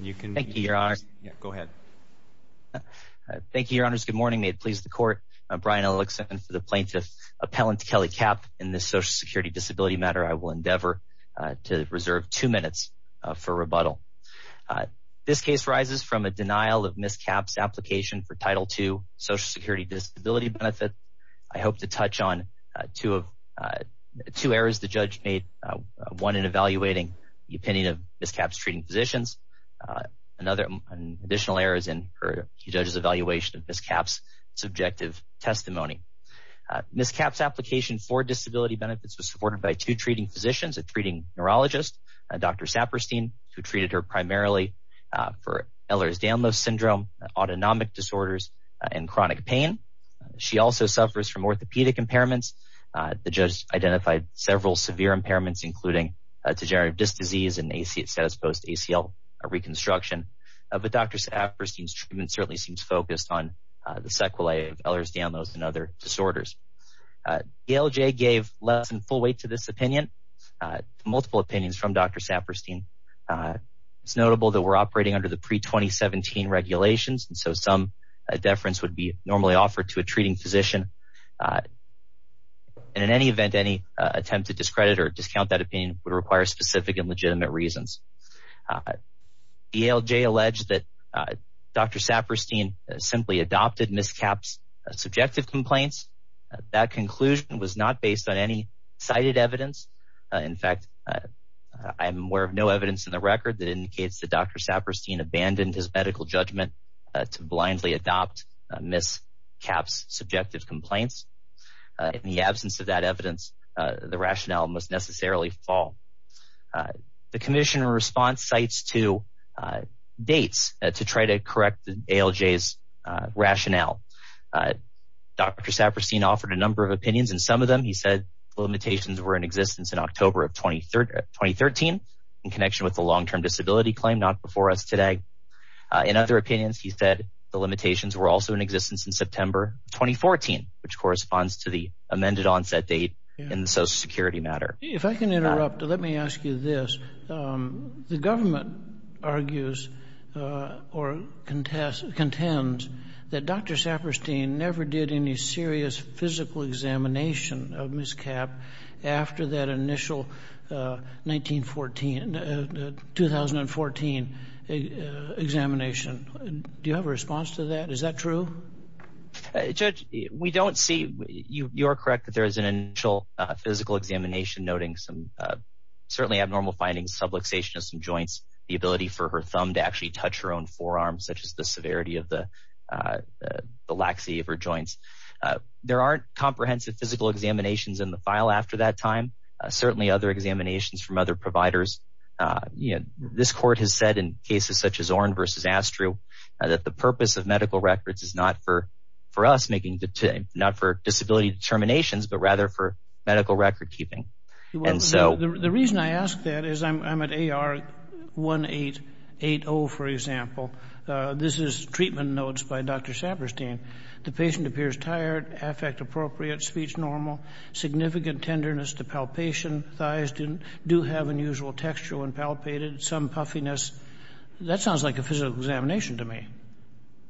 you can thank you your honor go ahead thank you your honors good morning may it please the court I'm Brian Ellickson for the plaintiff appellant Kelly Kapp in this social security disability matter I will endeavor to reserve two minutes for rebuttal this case arises from a denial of Ms. Kapp's application for title 2 social security disability benefit I hope to touch on two of two errors the judge made one in evaluating the opinion of Ms. Kapp's treating physicians another additional errors in her judges evaluation of Ms. Kapp's subjective testimony Ms. Kapp's application for disability benefits was supported by two treating physicians a treating neurologist dr. Saperstein who treated her primarily for Ehlers-Danlos syndrome autonomic disorders and chronic pain she also suffers from orthopedic impairments the judge identified several severe impairments including degenerative disc disease and a seat status post ACL reconstruction but dr. Saperstein's treatment certainly seems focused on the sequelae of Ehlers-Danlos and other disorders the LJ gave less than full weight to this opinion multiple opinions from dr. Saperstein it's notable that we're operating under the pre 2017 regulations and so some deference would be normally offered to a treating physician and in any event any attempt to discredit or would require specific and legitimate reasons the LJ alleged that dr. Saperstein simply adopted Ms. Kapp's subjective complaints that conclusion was not based on any cited evidence in fact I'm aware of no evidence in the record that indicates the dr. Saperstein abandoned his medical judgment to blindly adopt Ms. Kapp's subjective complaints in the absence of that fall the Commission response sites to dates to try to correct the LJ's rationale dr. Saperstein offered a number of opinions and some of them he said limitations were in existence in October of 23rd 2013 in connection with the long-term disability claim not before us today in other opinions he said the limitations were also in existence in September 2014 which let me ask you this the government argues or contest contends that dr. Saperstein never did any serious physical examination of Ms. Kapp after that initial 1914 2014 examination do you have a response to that is that true judge we don't see you you're correct that there is an initial physical examination noting some certainly abnormal findings subluxation of some joints the ability for her thumb to actually touch her own forearms such as the severity of the the laxity of her joints there aren't comprehensive physical examinations in the file after that time certainly other examinations from other providers you know this court has said in cases such as Orrin versus Astru that the purpose of medical records is not for for us making the not for disability determinations but rather for medical record-keeping and so the reason I ask that is I'm at AR 1880 for example this is treatment notes by dr. Saperstein the patient appears tired affect appropriate speech normal significant tenderness to palpation thighs didn't do have unusual texture when palpated some puffiness that sounds like a physical examination to me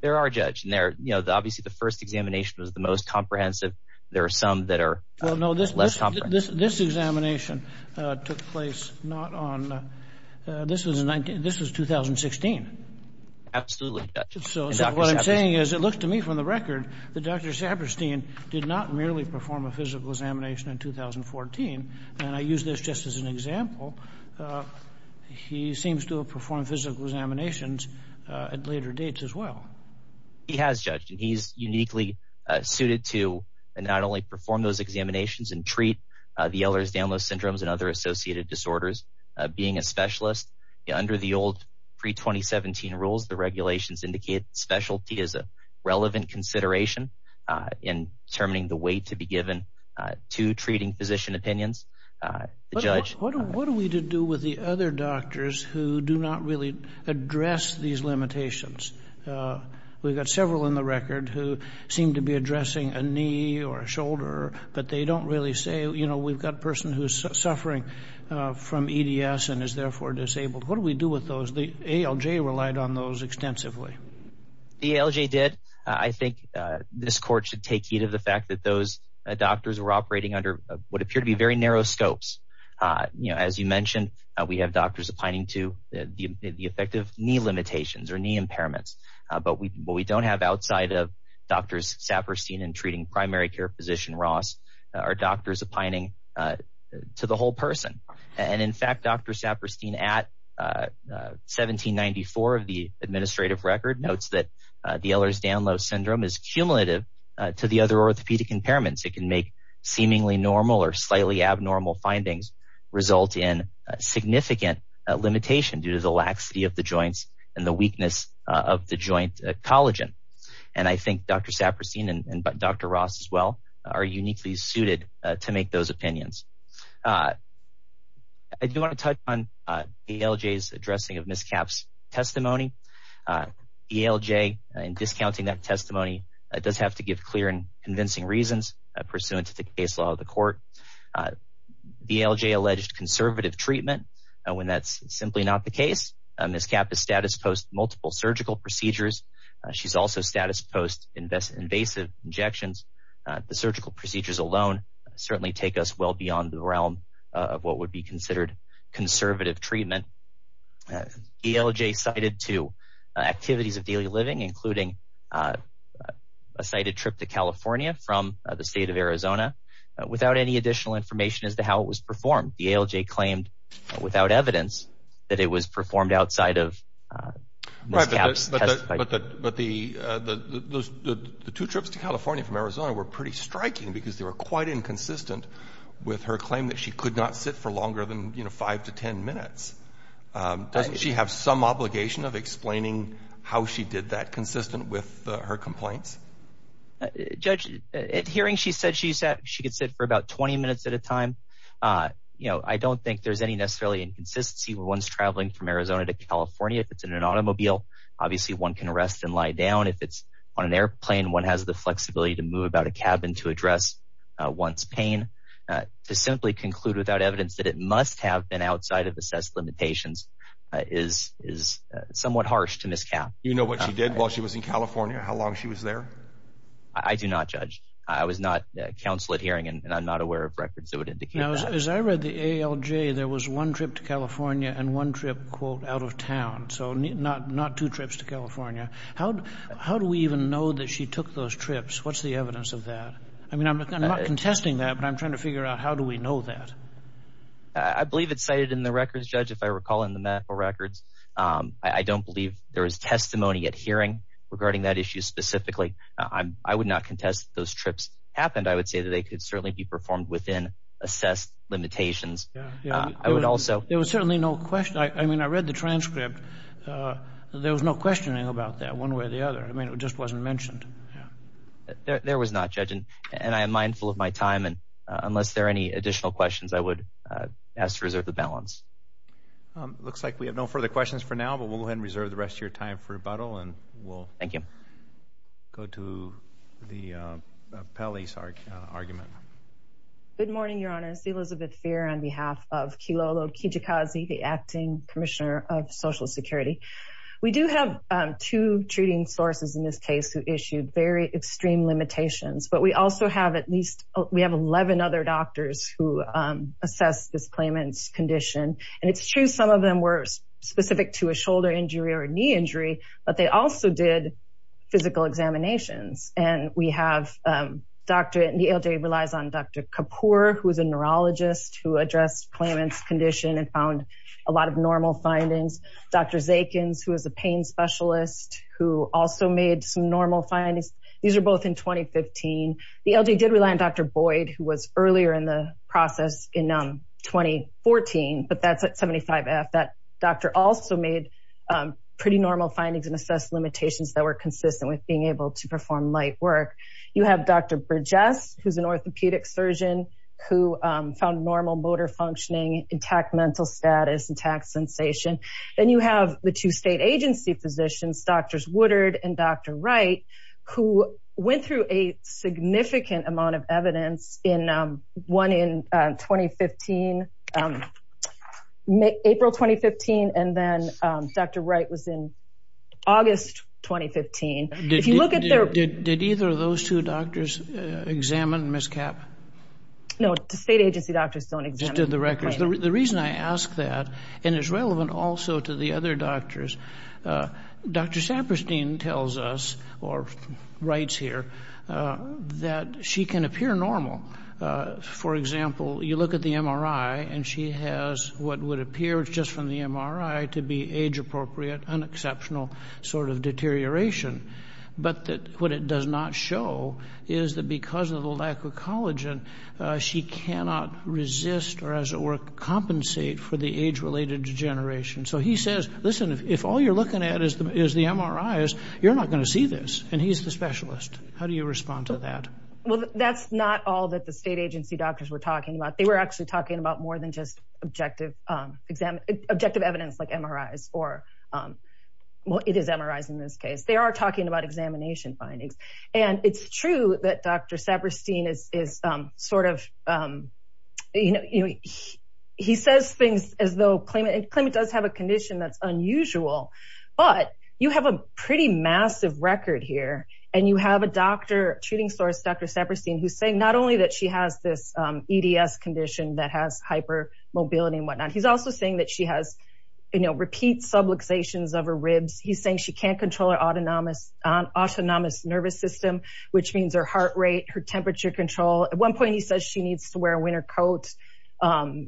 there judge and they're you know the obviously the first examination was the most comprehensive there are some that are well no this this examination took place not on this was a 19 this was 2016 absolutely so what I'm saying is it looks to me from the record the dr. Saperstein did not merely perform a physical examination in 2014 and I use this just as an example he seems to perform physical examinations at later dates as well he has judged and he's uniquely suited to and not only perform those examinations and treat the Ehlers-Danlos syndromes and other associated disorders being a specialist under the old pre 2017 rules the regulations indicate specialty is a relevant consideration in determining the way to be given to treating physician opinions what are we to do with the other doctors who do not really address these limitations we've got several in the record who seem to be addressing a knee or a shoulder but they don't really say you know we've got person who's suffering from EDS and is therefore disabled what do we do with those the ALJ relied on those extensively the ALJ did I think this court should take heed of the fact that those doctors were operating under what appear to be very narrow scopes you know as you mentioned we have doctors opining to the effective knee limitations or knee impairments but we don't have outside of doctors Saperstein and treating primary care physician Ross our doctors opining to the whole person and in fact dr. Saperstein at 1794 of the administrative record notes that the Ehlers-Danlos syndrome is cumulative to the other orthopedic impairments it can make seemingly normal or slightly abnormal findings result in significant limitation due to the laxity of the joints and the weakness of the joint collagen and I think dr. Saperstein and dr. Ross as well are uniquely suited to make those opinions I do want to touch on ALJ's addressing of miscaps testimony ALJ and discounting that testimony it does have to give clear and pursuant to the case law of the court the ALJ alleged conservative treatment and when that's simply not the case and this cap is status post multiple surgical procedures she's also status post invest invasive injections the surgical procedures alone certainly take us well beyond the realm of what would be considered conservative treatment ALJ cited to activities of daily living including a sighted trip to California from the state of Arizona without any additional information as to how it was performed the ALJ claimed without evidence that it was performed outside of the two trips to California from Arizona were pretty striking because they were quite inconsistent with her claim that she could not sit for longer than you know five to ten minutes she have some obligation of explaining how she did that consistent with her complaints hearing she said she said she could sit for about 20 minutes at a time you know I don't think there's any necessarily inconsistency with ones traveling from Arizona to California if it's in an automobile obviously one can rest and lie down if it's on an airplane one has the flexibility to move about a cabin to address one's pain to simply conclude without evidence that it must have been assessed limitations is is somewhat harsh to miscount you know what she did while she was in California how long she was there I do not judge I was not counsel at hearing and I'm not aware of records that would indicate as I read the ALJ there was one trip to California and one trip quote out of town so not not two trips to California how how do we even know that she took those trips what's the evidence of that I mean I'm not contesting that but I'm trying to judge if I recall in the medical records I don't believe there is testimony at hearing regarding that issue specifically I would not contest those trips happened I would say that they could certainly be performed within assessed limitations I would also there was certainly no question I mean I read the transcript there was no questioning about that one way or the other I mean it just wasn't mentioned there was not judging and I am mindful of my time and there any additional questions I would ask to reserve the balance looks like we have no further questions for now but we'll go ahead and reserve the rest of your time for a bottle and we'll thank you go to the Pelley's argument good morning your honor see Elizabeth fear on behalf of kilolo Kijikazi the acting commissioner of Social Security we do have two treating sources in this case who issued very extreme limitations but we also have at least we have 11 other doctors who assess this claimants condition and it's true some of them were specific to a shoulder injury or a knee injury but they also did physical examinations and we have doctorate and the LJ relies on dr. Kapoor who is a neurologist who addressed claimants condition and found a lot of normal findings dr. Zakins who is a pain specialist who also made some normal findings these are both in 2015 the LJ did rely on dr. Boyd who was earlier in the process in 2014 but that's at 75 F that doctor also made pretty normal findings and assess limitations that were consistent with being able to perform light work you have dr. Burgess who's an orthopedic surgeon who found normal motor functioning intact mental status intact sensation then you have the two state agency physicians doctors Woodard and dr. Wright who went through a significant amount of evidence in one in 2015 make April 2015 and then dr. Wright was in August 2015 if you look at their did either of those two doctors examine miss cap no state agency doctors don't exist in the records the reason I ask that and is relevant also to the other doctors dr. Saperstein tells us or writes here that she can appear normal for example you look at the MRI and she has what would appear just from the MRI to be age-appropriate an exceptional sort of deterioration but that what it does not show is that because of the she cannot resist or as it were compensate for the age-related degeneration so he says listen if all you're looking at is the is the MRI is you're not going to see this and he's the specialist how do you respond to that well that's not all that the state agency doctors were talking about they were actually talking about more than just objective exam objective evidence like MRIs or what it is MRIs in this case they are talking about examination findings and it's true that dr. Saperstein is sort of you know he says things as though claimant and claimant does have a condition that's unusual but you have a pretty massive record here and you have a doctor treating source dr. Saperstein who's saying not only that she has this EDS condition that has hypermobility and whatnot he's also saying that she has you know repeat subluxation of her ribs he's saying she can't control her autonomous on nervous system which means her heart rate her temperature control at one point he says she needs to wear a winter coat well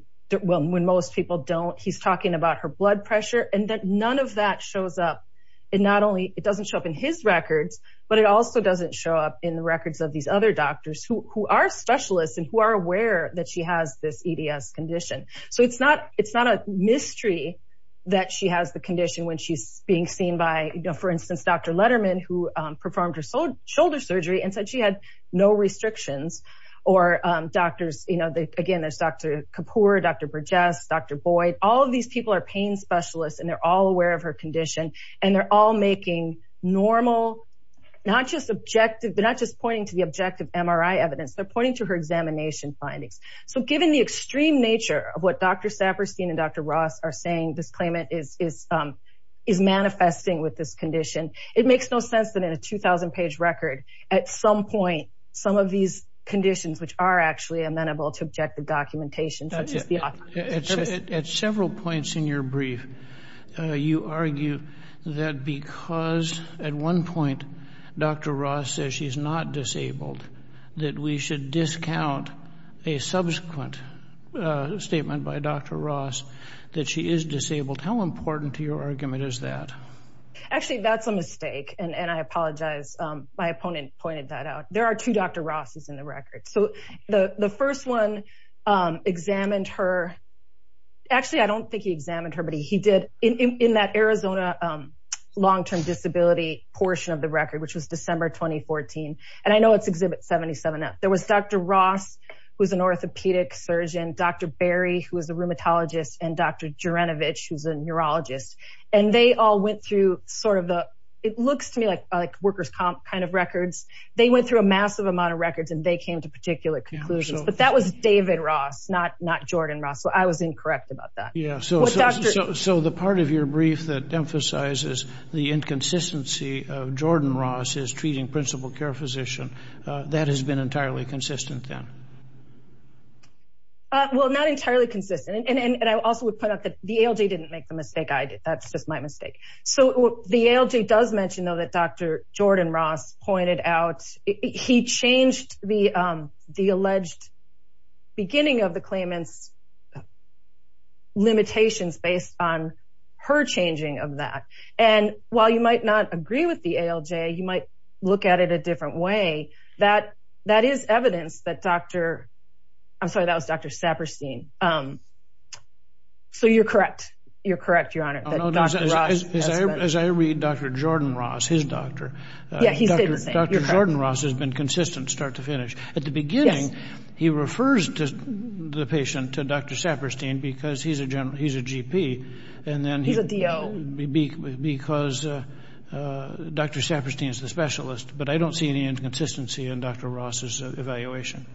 when most people don't he's talking about her blood pressure and that none of that shows up and not only it doesn't show up in his records but it also doesn't show up in the records of these other doctors who are specialists and who are aware that she has this EDS condition so it's not it's not a mystery that she has the condition when she's being seen by for instance dr. Letterman who performed her shoulder surgery and said she had no restrictions or doctors you know they again there's dr. Kapoor dr. Burgess dr. Boyd all of these people are pain specialists and they're all aware of her condition and they're all making normal not just objective they're not just pointing to the objective MRI evidence they're pointing to her examination findings so given the extreme nature of what dr. with this condition it makes no sense that in a 2,000 page record at some point some of these conditions which are actually amenable to objective documentation such as the at several points in your brief you argue that because at one point dr. Ross says she's not disabled that we should discount a subsequent statement by dr. Ross that she is disabled how important to your actually that's a mistake and and I apologize my opponent pointed that out there are two dr. Ross's in the record so the the first one examined her actually I don't think he examined her but he did in that Arizona long-term disability portion of the record which was December 2014 and I know it's exhibit 77 up there was dr. Ross was an orthopedic surgeon dr. Barry who was a rheumatologist and dr. Geronovich who's a neurologist and they all went through sort of the it looks to me like like workers comp kind of records they went through a massive amount of records and they came to particular conclusions but that was David Ross not not Jordan Russell I was incorrect about that yeah so so the part of your brief that emphasizes the inconsistency of Jordan Ross is treating principal care physician that has been entirely consistent well not entirely consistent and I also would put up that the ALJ didn't make the mistake I did that's just my mistake so the ALJ does mention though that dr. Jordan Ross pointed out he changed the the alleged beginning of the claimants limitations based on her changing of that and while you might not agree with the ALJ you might look at it a different way that that is evidence that dr. I'm sorry that was dr. Saperstein um so you're correct you're correct your honor as I read dr. Jordan Ross his doctor yeah he said dr. Jordan Ross has been consistent start to finish at the beginning he refers to the patient to dr. Saperstein because he's a general he's a GP and then he's a do because dr. Saperstein is the specialist but I don't see any inconsistency in dr. Ross's evaluation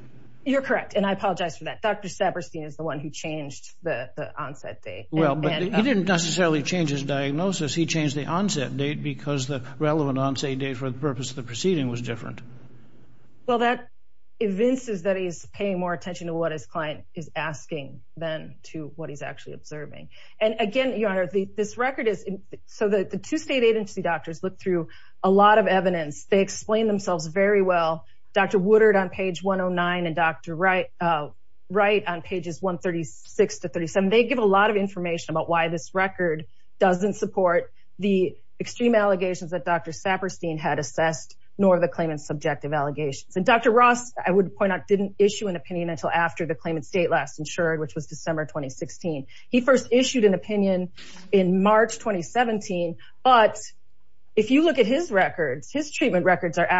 you're correct and I apologize for that dr. Saperstein is the one who changed the onset date well but he didn't necessarily change his diagnosis he changed the onset date because the relevant on say date for the purpose of the proceeding was different well that evinces that he's paying more attention to what his client is asking then to what he's actually observing and again your honor the this record is so that the two state agency doctors look through a lot of evidence they explain themselves very well dr. Woodard on page 109 and dr. Wright right on pages 136 to 37 they give a lot of information about why this record doesn't support the extreme allegations that dr. Saperstein had assessed nor the claimant subjective allegations and dr. Ross I would point out didn't issue an opinion until after the claimant state last insured which was December 2016 he first issued an opinion in March 2017 but if you look at his records his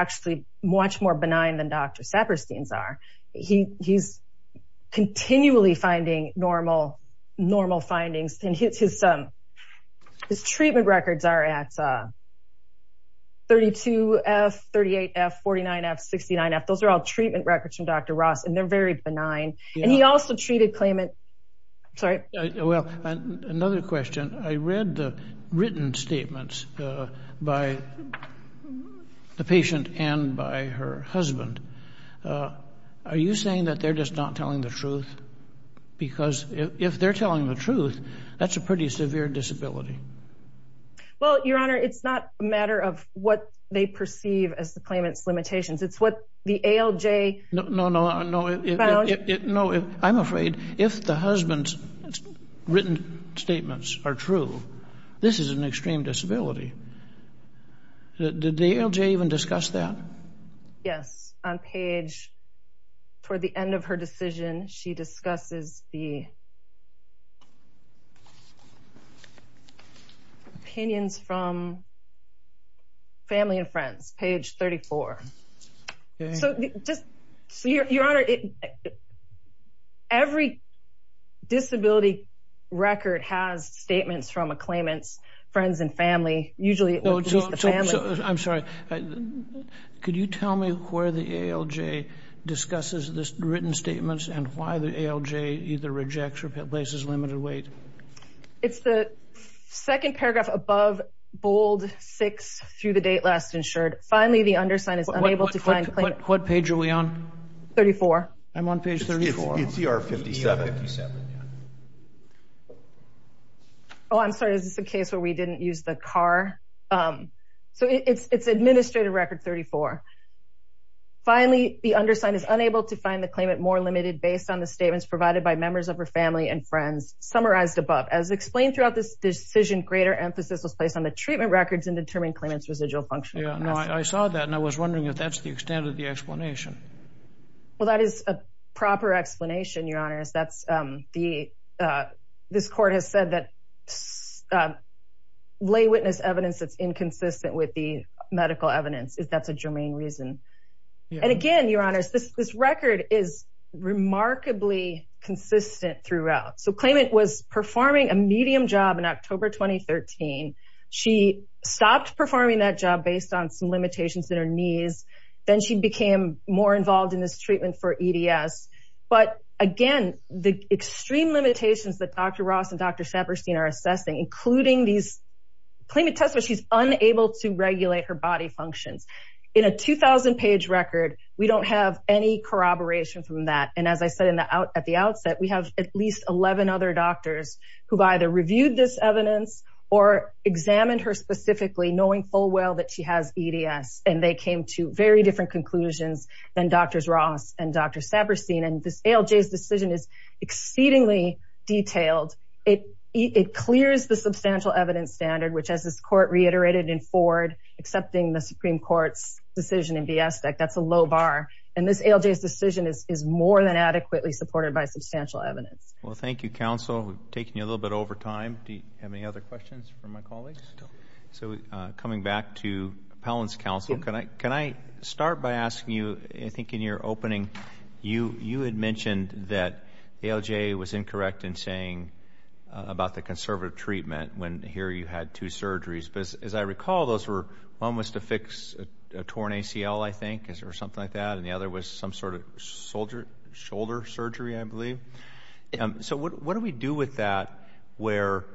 actually much more benign than dr. Saperstein's are he he's continually finding normal normal findings and hits his son his treatment records are at 32 F 38 F 49 F 69 F those are all treatment records from dr. Ross and they're very benign and he also treated claimant sorry well another question I read the statements by the patient and by her husband are you saying that they're just not telling the truth because if they're telling the truth that's a pretty severe disability well your honor it's not a matter of what they perceive as the claimant's limitations it's what the ALJ no no no it no I'm afraid if the statements are true this is an extreme disability did the ALJ even discuss that yes on page for the end of her decision she discusses the opinions from family and friends page 34 so just so your honor it every disability record has statements from a claimant's friends and family usually I'm sorry could you tell me where the ALJ discusses this written statements and why the ALJ either rejects or places limited weight it's the second paragraph above bold six through the date last insured finally the undersigned is unable to find what page are we on 34 I'm on page 34 it's er 57 oh I'm sorry is this a case where we didn't use the car so it's it's administrative record 34 finally the undersigned is unable to find the claimant more limited based on the statements provided by members of her family and friends summarized above as explained throughout this decision greater emphasis was placed on the residual function I saw that and I was wondering if that's the extent of the explanation well that is a proper explanation your honors that's the this court has said that lay witness evidence that's inconsistent with the medical evidence is that's a germane reason and again your honors this record is remarkably consistent throughout so claimant was performing a medium job in that job based on some limitations in her knees then she became more involved in this treatment for EDS but again the extreme limitations that dr. Ross and dr. Shepherd seen are assessing including these claimant test what she's unable to regulate her body functions in a 2,000 page record we don't have any corroboration from that and as I said in the out at the outset we have at least 11 other doctors who've either reviewed this evidence or examined her specifically knowing full well that she has EDS and they came to very different conclusions and doctors Ross and dr. Saber seen and this LJ's decision is exceedingly detailed it it clears the substantial evidence standard which has this court reiterated in Ford accepting the Supreme Court's decision in the aspect that's a low bar and this LJ's decision is more than adequately supported by substantial evidence well thank you counsel taking a little bit over time to have any other questions for my colleagues so coming back to Palin's counsel can I can I start by asking you I think in your opening you you had mentioned that the LJ was incorrect in saying about the conservative treatment when here you had two surgeries because as I recall those were one was to fix a torn ACL I think is there something like that and the other was some sort of soldier shoulder surgery I believe so what do we do with that where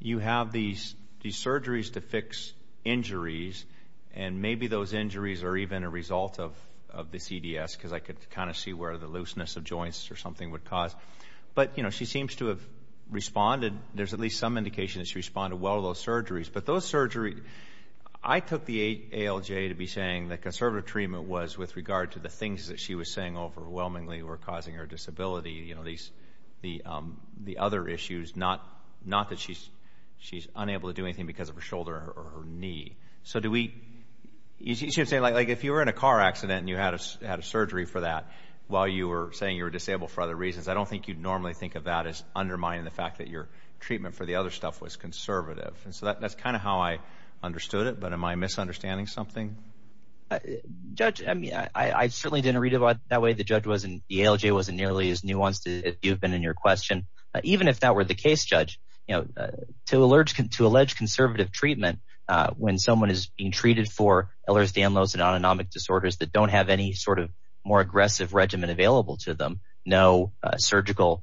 you have these these surgeries to fix injuries and maybe those injuries are even a result of the CDS because I could kind of see where the looseness of joints or something would cause but you know she seems to have responded there's at least some indication she responded well those surgeries but those surgery I took the eight LJ to be saying that conservative treatment was with regard to the things that she was saying overwhelmingly were causing her disability you know these the the other issues not not that she's she's unable to do anything because of her shoulder or her knee so do we you should say like if you were in a car accident and you had a surgery for that while you were saying you were disabled for other reasons I don't think you'd normally think of that as undermining the fact that your treatment for the other stuff was conservative and so that's kind of how I understood it but am I misunderstanding something judge I mean I certainly didn't read about that way the judge wasn't the LJ wasn't nearly as nuanced as you've been in your question even if that were the case judge you know to alert can to allege conservative treatment when someone is being treated for Ehlers-Danlos and autonomic disorders that don't have any sort of more aggressive regimen available to them no surgical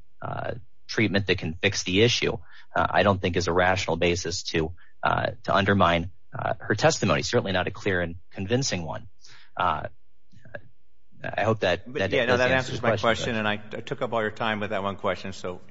treatment that can fix the issue I don't think is a rational basis to to undermine her testimony certainly not a clear and question and I took up all your time with that one question so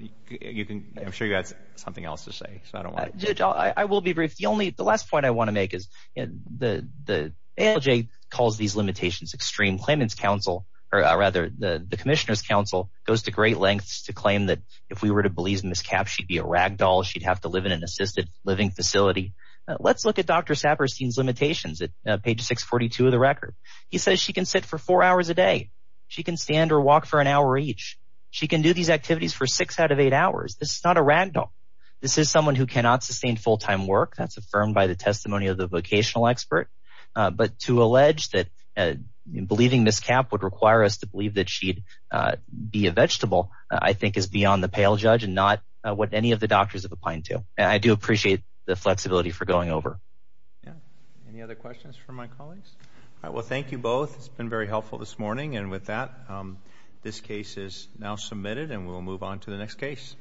you can I'm sure you got something else to say so I don't want to I will be brief the only the last point I want to make is the the LJ calls these limitations extreme claimants counsel or rather the the Commissioner's Council goes to great lengths to claim that if we were to believe in this cap she'd be a rag doll she'd have to live in an assisted living facility let's look at dr. Saperstein's limitations at page 642 of the record he says she can sit for four hours a day she can stand or walk for an hour each she can do these activities for six out of eight hours this is not a rag doll this is someone who cannot sustain full-time work that's affirmed by the testimony of the vocational expert but to allege that believing this cap would require us to believe that she'd be a vegetable I think is beyond the pale judge and not what any of the doctors of the pine to I do appreciate the flexibility for going over yeah any other questions for my colleagues I will thank you both it's been very helpful this morning and with that this case is now submitted and we will move on to the next case